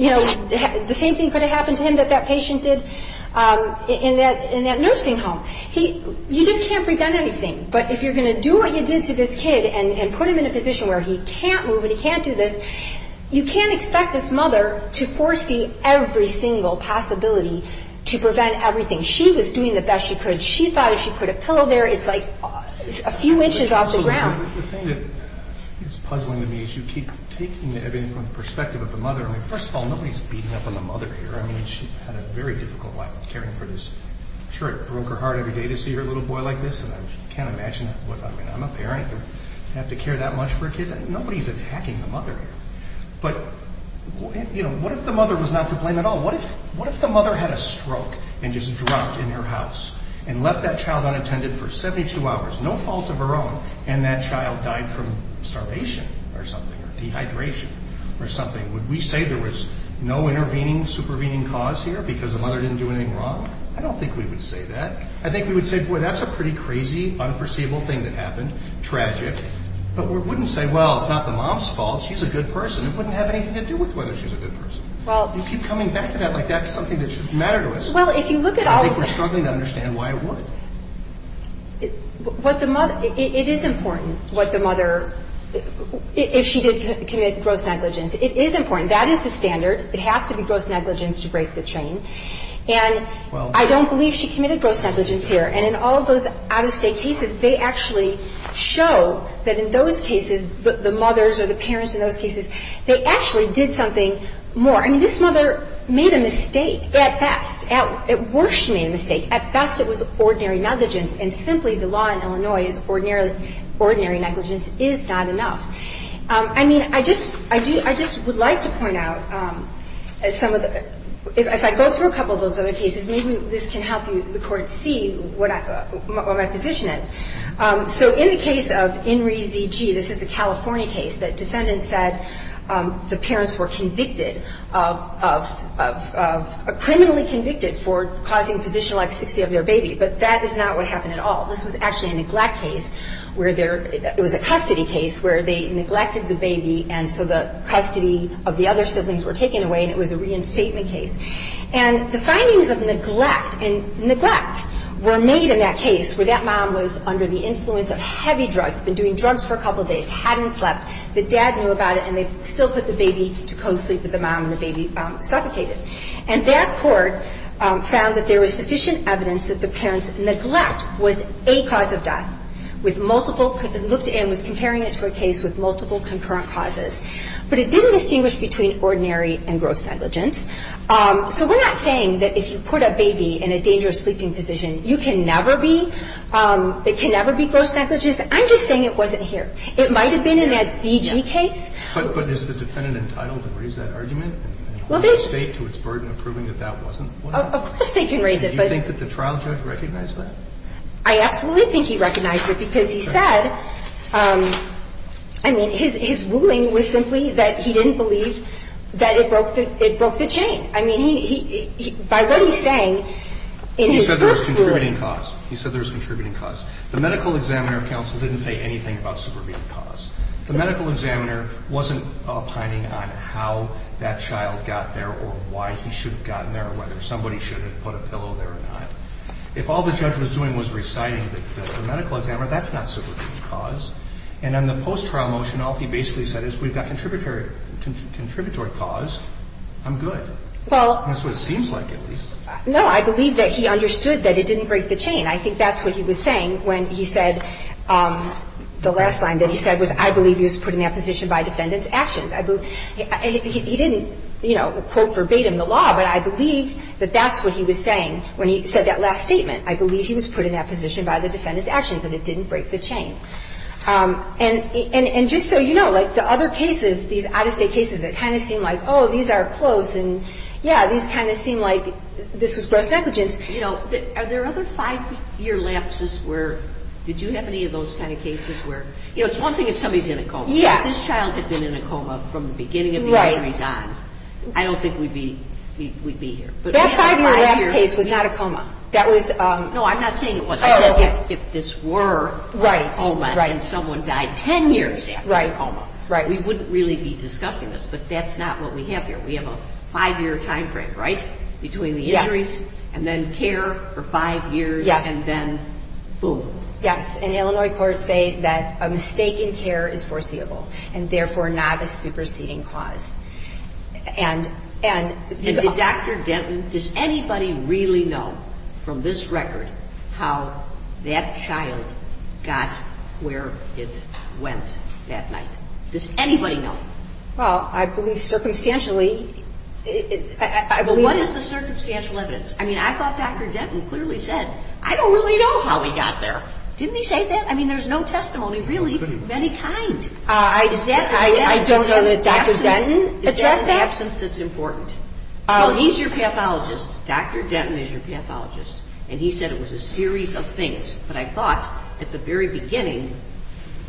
you know, the same thing could have happened to him that that patient did in that nursing home. He – you just can't prevent anything. But if you're going to do what you did to this kid and put him in a position where he can't move and he can't do this, you can't expect this mother to foresee every single possibility to prevent everything. She was doing the best she could. She thought if she put a pillow there, it's like a few inches off the ground. The thing that is puzzling to me is you keep taking everything from the perspective of the mother. I mean, first of all, nobody's beating up on the mother here. I mean, she had a very difficult life caring for this – I'm sure it broke her heart every day to see her little boy like this, and I can't imagine – I mean, I'm a parent. I have to care that much for a kid? Nobody's attacking the mother here. But, you know, what if the mother was not to blame at all? What if the mother had a stroke and just dropped in her house and left that child unattended for 72 hours, no fault of her own, and that child died from starvation or something or dehydration or something? Would we say there was no intervening, supervening cause here because the mother didn't do anything wrong? I don't think we would say that. I think we would say, boy, that's a pretty crazy, unforeseeable thing that happened, tragic. But we wouldn't say, well, it's not the mom's fault. She's a good person. It wouldn't have anything to do with whether she's a good person. You keep coming back to that like that's something that should matter to us. I think we're struggling to understand why it would. It is important what the mother – if she did commit gross negligence. It is important. That is the standard. It has to be gross negligence to break the chain. And I don't believe she committed gross negligence here. And in all of those out-of-state cases, they actually show that in those cases, the mothers or the parents in those cases, they actually did something more. I mean, this mother made a mistake at best. At worst, she made a mistake. At best, it was ordinary negligence. And simply, the law in Illinois is ordinary negligence is not enough. I mean, I just – I do – I just would like to point out some of the – if I go through a couple of those other cases, maybe this can help you, the Court, see what my position is. So in the case of Inree Z.G., this is a California case, that defendants said the parents were convicted of – criminally convicted for causing positional asphyxia of their baby. But that is not what happened at all. This was actually a neglect case where there – it was a custody case where they neglected the baby, and so the custody of the other siblings were taken away, and it was a reinstatement case. And the findings of neglect and – neglect were made in that case, where that mom was under the influence of heavy drugs, been doing drugs for a couple of days, hadn't slept, the dad knew about it, and they still put the baby to co-sleep with the mom, and the baby suffocated. And that court found that there was sufficient evidence that the parents' neglect was a cause of death, with multiple – looked in, was comparing it to a case with multiple concurrent causes. But it didn't distinguish between ordinary and gross negligence. So we're not saying that if you put a baby in a dangerous sleeping position, you can never be – it can never be gross negligence. I'm just saying it wasn't here. It might have been in that Z.G. case. But is the defendant entitled to raise that argument? Well, they – And hold the State to its burden of proving that that wasn't what happened. Of course they can raise it, but – Do you think that the trial judge recognized that? I absolutely think he recognized it, because he said – I mean, his ruling was simply that he didn't believe that it broke the chain. I mean, he – by what he's saying, in his first ruling – He said there was contributing cause. He said there was contributing cause. The medical examiner counsel didn't say anything about supervening cause. The medical examiner wasn't opining on how that child got there or why he should have gotten there or whether somebody should have put a pillow there or not. If all the judge was doing was reciting the medical examiner, that's not supervening cause. And on the post-trial motion, all he basically said is we've got contributory cause. I'm good. Well – That's what it seems like, at least. No. I believe that he understood that it didn't break the chain. I think that's what he was saying when he said – the last line that he said was, I believe he was put in that position by defendant's actions. He didn't, you know, quote verbatim the law, but I believe that that's what he was saying when he said that last statement. I believe he was put in that position by the defendant's actions and it didn't break the chain. And just so you know, like the other cases, these out-of-state cases that kind of seem like, oh, these are close and, yeah, these kind of seem like this was gross negligence. You know, are there other five-year lapses where – did you have any of those kind of cases where – you know, it's one thing if somebody's in a coma. Yeah. If this child had been in a coma from the beginning of the arteries on, I don't think we'd be here. That five-year lapse case was not a coma. That was – No, I'm not saying it wasn't. Oh. If this were a coma and someone died 10 years after a coma, we wouldn't really be discussing this, but that's not what we have here. We have a five-year timeframe, right, between the injuries and then care for five years and then boom. Yes. And Illinois courts say that a mistake in care is foreseeable and, therefore, not a superseding cause. And did Dr. Denton – does anybody really know from this record how that child got where it went that night? Does anybody know? Well, I believe circumstantially – I believe – But what is the circumstantial evidence? I mean, I thought Dr. Denton clearly said, I don't really know how he got there. Didn't he say that? I mean, there's no testimony really of any kind. I don't know that Dr. Denton addressed that. Is that an absence that's important? Well, he's your pathologist. Dr. Denton is your pathologist. And he said it was a series of things. But I thought at the very beginning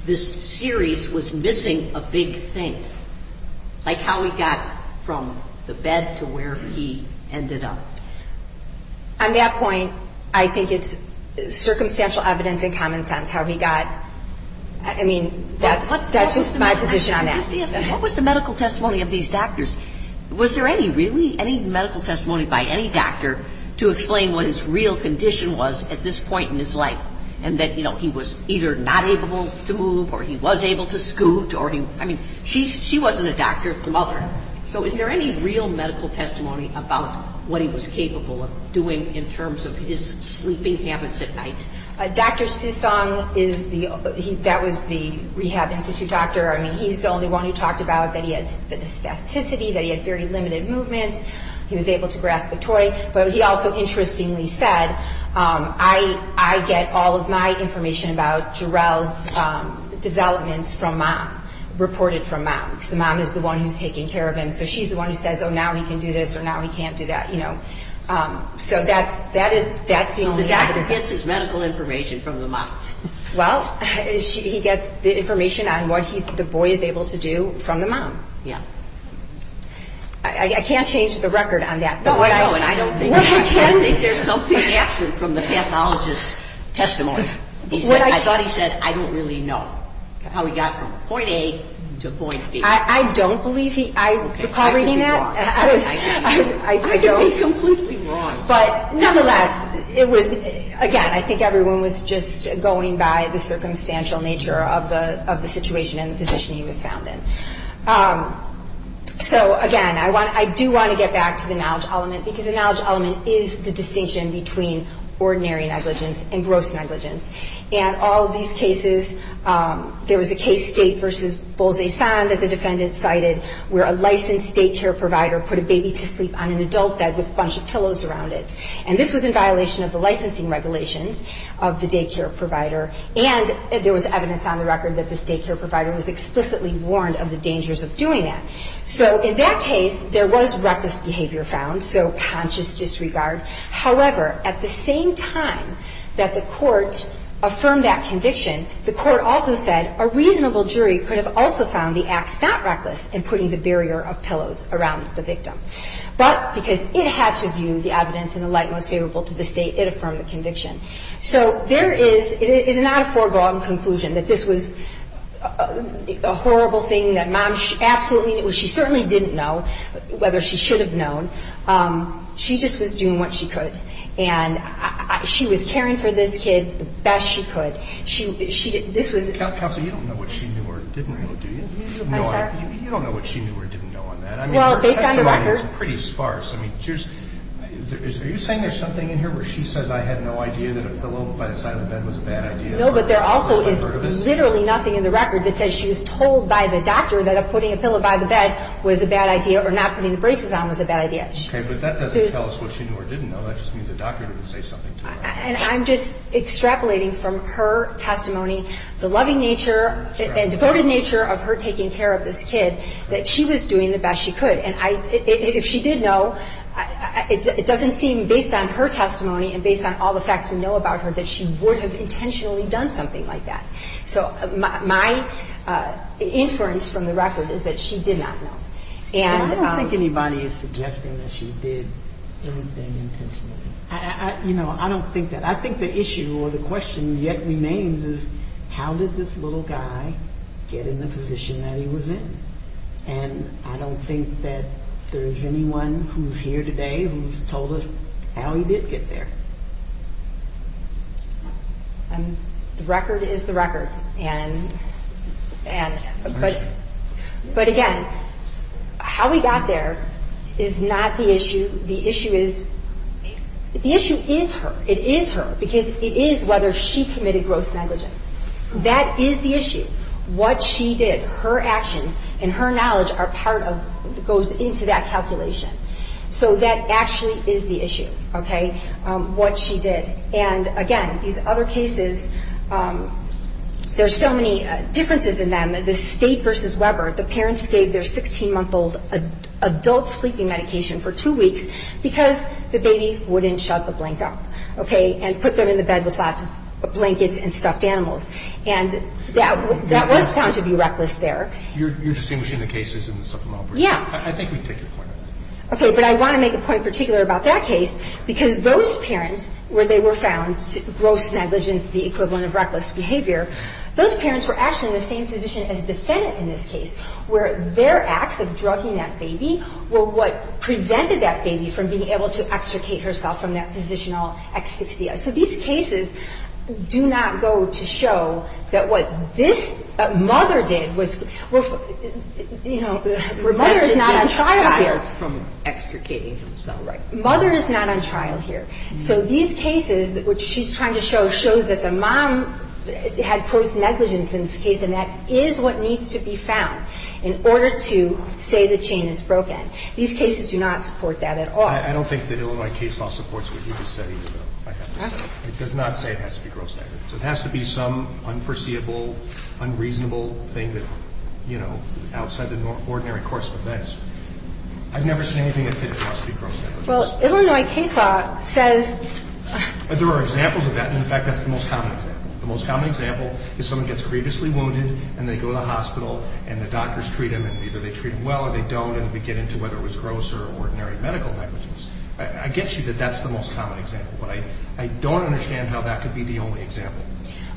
this series was missing a big thing, like how he got from the bed to where he ended up. On that point, I think it's circumstantial evidence and common sense how he got – I mean, that's just my position on that. What was the medical testimony of these doctors? Was there any, really, any medical testimony by any doctor to explain what his real condition was at this point in his life and that, you know, he was either not able to move or he was able to scoot or he – I mean, she wasn't a doctor, the mother. So is there any real medical testimony about what he was capable of doing in terms of his sleeping habits at night? Dr. Sisong is the – that was the rehab institute doctor. I mean, he's the only one who talked about that he had spasticity, that he had very limited movements. He was able to grasp a toy. But he also interestingly said, I get all of my information about Jarrell's developments from mom, reported from mom. So mom is the one who's taking care of him. So she's the one who says, oh, now he can do this or now he can't do that, you know. So that's the only evidence. Who gets his medical information from the mom? Well, he gets the information on what the boy is able to do from the mom. Yeah. I can't change the record on that. No, I know, and I don't think there's something absent from the pathologist's testimony. I thought he said, I don't really know how he got from point A to point B. I don't believe he – I – recall reading that? I could be wrong. I don't. I could be completely wrong. But nonetheless, it was – again, I think everyone was just going by the circumstantial nature of the situation and the position he was found in. So, again, I want – I do want to get back to the knowledge element, because the knowledge element is the distinction between ordinary negligence and gross negligence. And all of these cases, there was a case, State v. Bolzay-San, that the defendant cited, where a licensed daycare provider put a baby to sleep on an adult bed with a bunch of pillows around it. And this was in violation of the licensing regulations of the daycare provider. And there was evidence on the record that this daycare provider was explicitly warned of the dangers of doing that. So in that case, there was reckless behavior found, so conscious disregard. However, at the same time that the court affirmed that conviction, the court also said a reasonable jury could have also found the acts not reckless in putting the barrier of pillows around the victim. But because it had to view the evidence in the light most favorable to the State, it affirmed the conviction. So there is – it is not a foregone conclusion that this was a horrible thing that mom absolutely – well, she certainly didn't know whether she should have known. She just was doing what she could. And she was caring for this kid the best she could. But she – this was – Counsel, you don't know what she knew or didn't know, do you? I'm sorry? You don't know what she knew or didn't know on that. Well, based on the record – I mean, the testimony is pretty sparse. I mean, are you saying there's something in here where she says I had no idea that a pillow by the side of the bed was a bad idea? No, but there also is literally nothing in the record that says she was told by the doctor that putting a pillow by the bed was a bad idea or not putting the braces on was a bad idea. Okay, but that doesn't tell us what she knew or didn't know. That just means the doctor didn't say something to her. And I'm just extrapolating from her testimony, the loving nature and devoted nature of her taking care of this kid, that she was doing the best she could. And if she did know, it doesn't seem, based on her testimony and based on all the facts we know about her, that she would have intentionally done something like that. So my inference from the record is that she did not know. I don't think anybody is suggesting that she did anything intentionally. You know, I don't think that. I think the issue or the question yet remains is how did this little guy get in the position that he was in? And I don't think that there's anyone who's here today who's told us how he did get there. The record is the record. But, again, how he got there is not the issue. The issue is her. It is her because it is whether she committed gross negligence. That is the issue. What she did, her actions and her knowledge are part of, goes into that calculation. So that actually is the issue, okay, what she did. And, again, these other cases, there's so many differences in them. The State versus Weber, the parents gave their 16-month-old adult sleeping medication for two weeks because the baby wouldn't shut the blanket up, okay, and put them in the bed with lots of blankets and stuffed animals. And that was found to be reckless there. You're distinguishing the cases in the supplemental version. Yeah. I think we can take your point. Okay. But I want to make a point particular about that case because those parents where they were found, gross negligence, the equivalent of reckless behavior, those parents were actually in the same position as defendant in this case where their acts of drugging that baby were what prevented that baby from being able to extricate herself from that positional asphyxia. So these cases do not go to show that what this mother did was, you know, prevented the child from extricating himself. Right. Mother is not on trial here. So these cases, which she's trying to show, shows that the mom had gross negligence in this case, and that is what needs to be found in order to say the chain is broken. These cases do not support that at all. I don't think that Illinois case law supports what you just said either, though, if I have to say. Okay. It does not say it has to be gross negligence. So it has to be some unforeseeable, unreasonable thing that, you know, outside the ordinary course of events. I've never seen anything that says it has to be gross negligence. Well, Illinois case law says. There are examples of that, and, in fact, that's the most common example. The most common example is someone gets grievously wounded, and they go to the hospital, and the doctors treat them, and either they treat them well or they don't, and we get into whether it was gross or ordinary medical negligence. I get you that that's the most common example, but I don't understand how that could be the only example.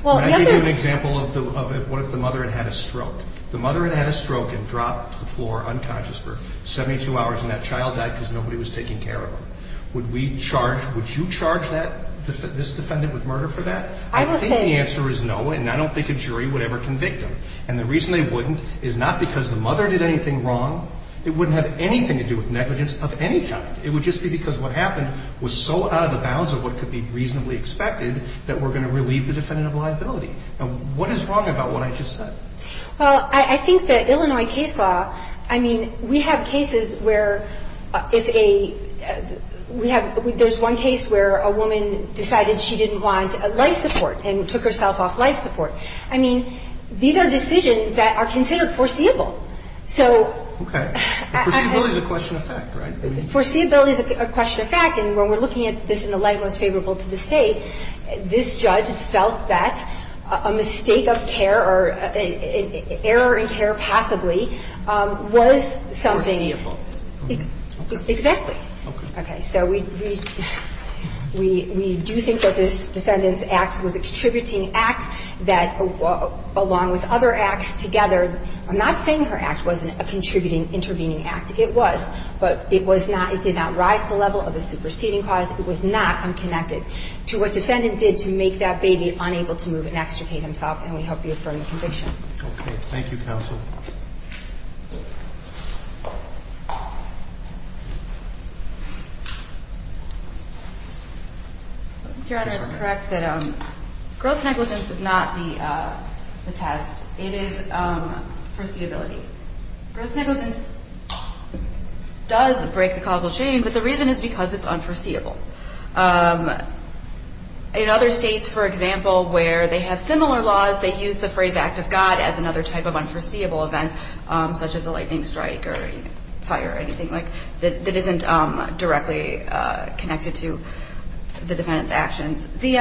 Well, the other is. Can I give you an example of what if the mother had had a stroke? The mother had had a stroke and dropped to the floor unconscious for 72 hours, and that child died because nobody was taking care of her. Would we charge – would you charge this defendant with murder for that? I would say. I think the answer is no, and I don't think a jury would ever convict them. And the reason they wouldn't is not because the mother did anything wrong. It wouldn't have anything to do with negligence of any kind. It would just be because what happened was so out of the bounds of what could be reasonably expected that we're going to relieve the defendant of liability. And what is wrong about what I just said? Well, I think that Illinois case law, I mean, we have cases where if a – we have – there's one case where a woman decided she didn't want life support and took herself off life support. I mean, these are decisions that are considered foreseeable. So – Okay. Foreseeability is a question of fact, right? Foreseeability is a question of fact. And when we're looking at this in the light most favorable to the State, this judge felt that a mistake of care or an error in care passably was something – Irremediable. Exactly. Okay. Okay. So we do think that this defendant's act was a contributing act that, along with other acts together – I'm not saying her act wasn't a contributing, intervening act. It was. But it was not – it did not rise to the level of a superseding cause. It was not unconnected to what defendant did to make that baby unable to move and extricate himself. And we hope you affirm the conviction. Okay. Thank you, counsel. Your Honor, it's correct that gross negligence is not the test. It is foreseeability. Gross negligence does break the causal chain, but the reason is because it's unforeseeable. In other states, for example, where they have similar laws, they use the phrase act of God as another type of unforeseeable event, such as a lightning strike or fire or anything like – that isn't directly connected to the defendant's actions. It's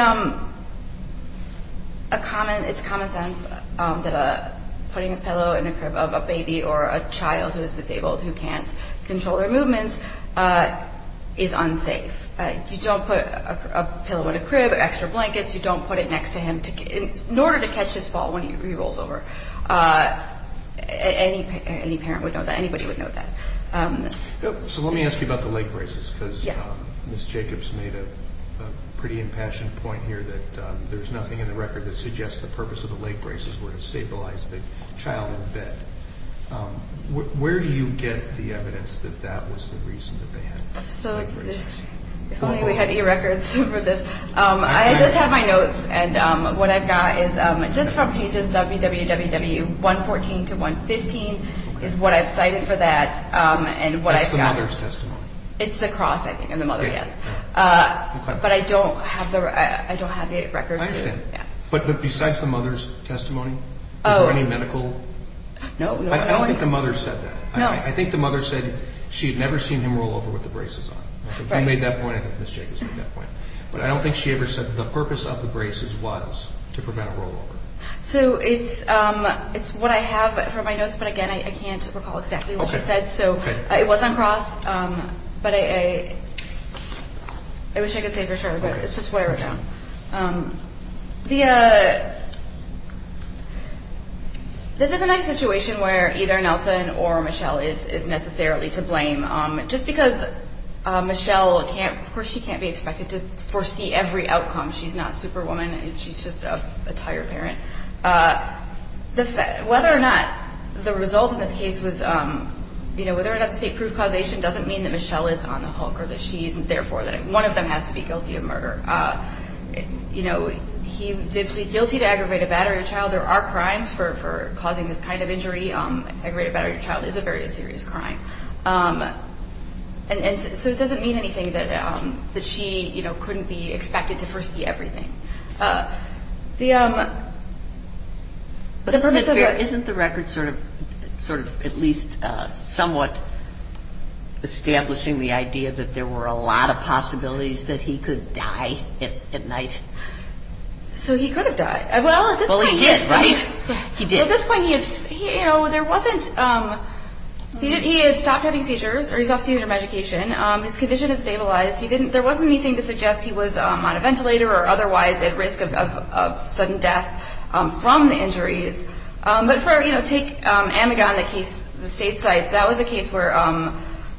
common sense that putting a pillow in the crib of a baby or a child who is disabled who can't control their movements is unsafe. You don't put a pillow in a crib, extra blankets. You don't put it next to him in order to catch his fall when he rolls over. Any parent would know that. Anybody would know that. So let me ask you about the leg braces because Ms. Jacobs made a pretty impassioned point here that there's nothing in the record that suggests the purpose of the leg braces were to stabilize the child in bed. Where do you get the evidence that that was the reason that they had the leg braces? If only we had e-records for this. I just have my notes. And what I've got is just from pages WWW 114 to 115 is what I've cited for that and what I've got. That's the mother's testimony. It's the cross, I think, and the mother, yes. But I don't have the records. I understand. But besides the mother's testimony, are there any medical? No. I don't think the mother said that. No. I think the mother said she had never seen him roll over with the braces on. You made that point. I think Ms. Jacobs made that point. But I don't think she ever said the purpose of the braces was to prevent roll over. So it's what I have from my notes. But, again, I can't recall exactly what she said. So it was on cross. But I wish I could say for sure. But it's just what I wrote down. This is a nice situation where either Nelson or Michelle is necessarily to blame. Just because Michelle, of course she can't be expected to foresee every outcome. She's not Superwoman. She's just a tired parent. Whether or not the result of this case was, you know, whether or not the state proved causation doesn't mean that Michelle is on the hook or that she isn't there for it. One of them has to be guilty of murder. You know, he did plead guilty to aggravated battery of child. There are crimes for causing this kind of injury. Aggravated battery of child is a very serious crime. And so it doesn't mean anything that she, you know, couldn't be expected to be there for it. But the purpose of the record. Isn't the record sort of at least somewhat establishing the idea that there were a lot of possibilities that he could die at night? So he could have died. Well, at this point. Well, he did, right? He did. Well, at this point, you know, there wasn't he had stopped having seizures or he stopped seizure medication. His condition had stabilized. He didn't, there wasn't anything to suggest he was on a ventilator or otherwise at risk of sudden death from the injuries. But for, you know, take Amagon, the case, the state sites, that was a case where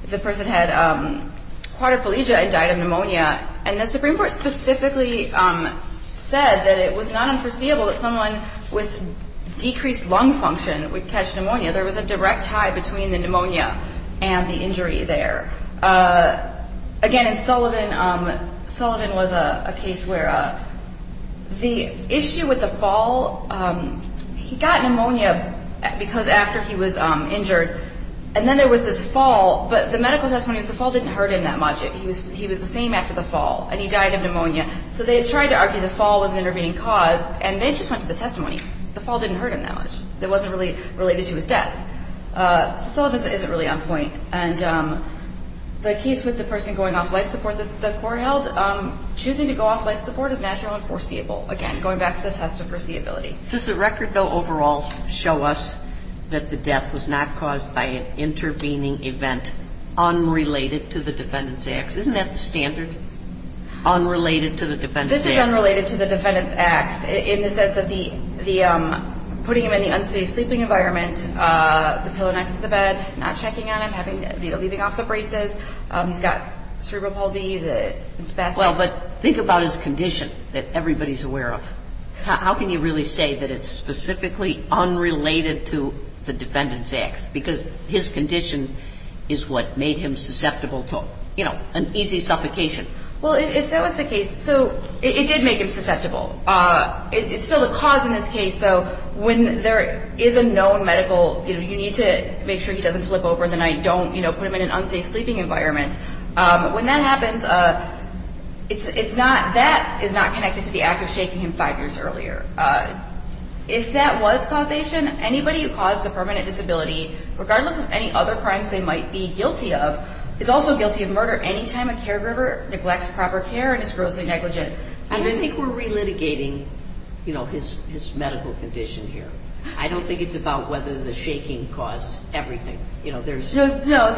the person had quadriplegia and died of pneumonia. And the Supreme Court specifically said that it was not unforeseeable that someone with decreased lung function would catch pneumonia. There was a direct tie between the pneumonia and the injury there. Again, in Sullivan, Sullivan was a case where the issue with the fall, he got pneumonia because after he was injured. And then there was this fall. But the medical testimony was the fall didn't hurt him that much. He was the same after the fall. And he died of pneumonia. So they had tried to argue the fall was an intervening cause. And they just went to the testimony. The fall didn't hurt him that much. It wasn't really related to his death. Sullivan isn't really on point. And the case with the person going off life support that the court held, choosing to go off life support is natural and foreseeable. Again, going back to the test of foreseeability. Does the record, though, overall show us that the death was not caused by an intervening event unrelated to the Defendant's Acts? Isn't that the standard, unrelated to the Defendant's Acts? This is unrelated to the Defendant's Acts in the sense that the, putting him in the unsafe sleeping environment, the pillow next to the bed, not checking on him, leaving off the braces. He's got cerebral palsy. Well, but think about his condition that everybody's aware of. How can you really say that it's specifically unrelated to the Defendant's Acts? Because his condition is what made him susceptible to, you know, an easy suffocation. Well, if that was the case, so it did make him susceptible. It's still the cause in this case, though. When there is a known medical, you know, you need to make sure he doesn't flip over in the night, don't, you know, put him in an unsafe sleeping environment. When that happens, it's not, that is not connected to the act of shaking him five years earlier. If that was causation, anybody who caused a permanent disability, regardless of any other crimes they might be guilty of, is also guilty of murder any time a caregiver neglects proper care and is grossly negligent. I don't think we're relitigating, you know, his medical condition here. I don't think it's about whether the shaking caused everything. You know, there's... No,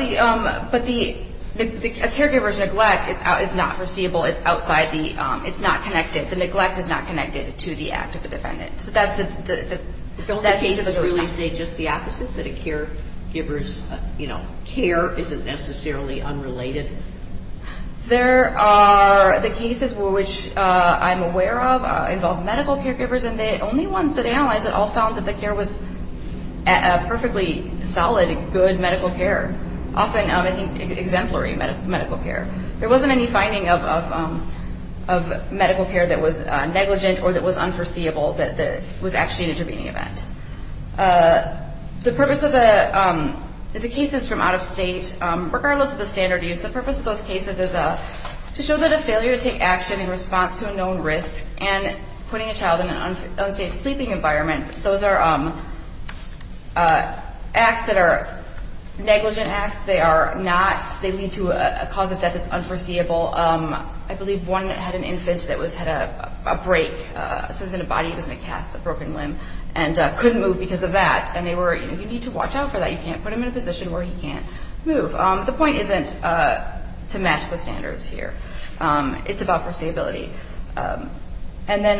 but the caregiver's neglect is not foreseeable. It's outside the, it's not connected. The neglect is not connected to the act of the Defendant. So that's the... Don't the cases really say just the opposite? That a caregiver's, you know, care isn't necessarily unrelated? There are the cases which I'm aware of involve medical caregivers, and the only ones that analyzed it all found that the care was perfectly solid, good medical care. Often, I think, exemplary medical care. There wasn't any finding of medical care that was negligent or that was unforeseeable that was actually an intervening event. The purpose of the cases from out of state, regardless of the standard use, the purpose of those cases is to show that a failure to take action in response to a known risk and putting a child in an unsafe sleeping environment, those are acts that are negligent acts. They are not, they lead to a cause of death that's unforeseeable. I believe one had an infant that had a break. So it was in a body, it was in a cast, a broken limb, and couldn't move because of that. And they were, you know, you need to watch out for that. You can't put him in a position where he can't move. The point isn't to match the standards here. It's about foreseeability. And then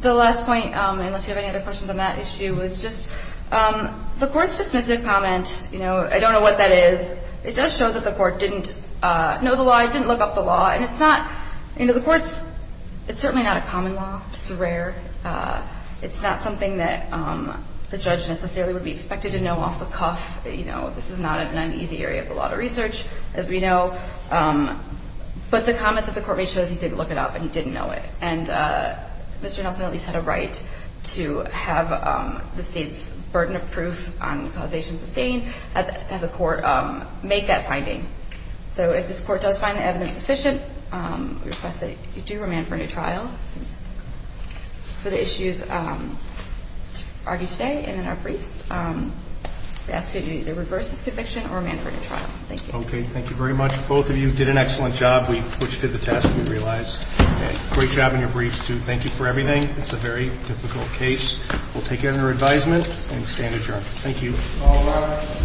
the last point, unless you have any other questions on that issue, was just the court's dismissive comment, you know, I don't know what that is. It does show that the court didn't know the law, didn't look up the law, and it's not, you know, the court's, it's certainly not a common law. It's rare. It's not something that the judge necessarily would be expected to know off the cuff. You know, this is not an uneasy area of the law to research, as we know. But the comment that the court made shows he didn't look it up and he didn't know it. And Mr. Nelson at least had a right to have the state's burden of proof on causation sustained and have the court make that finding. So if this court does find the evidence sufficient, we request that you do remand for a new trial. For the issues argued today and in our briefs, we ask that you either reverse this conviction or remand for a new trial. Thank you. Okay, thank you very much. Both of you did an excellent job, which did the test, we realize. Great job on your briefs, too. Thank you for everything. It's a very difficult case. We'll take it under advisement and stand adjourned. Thank you.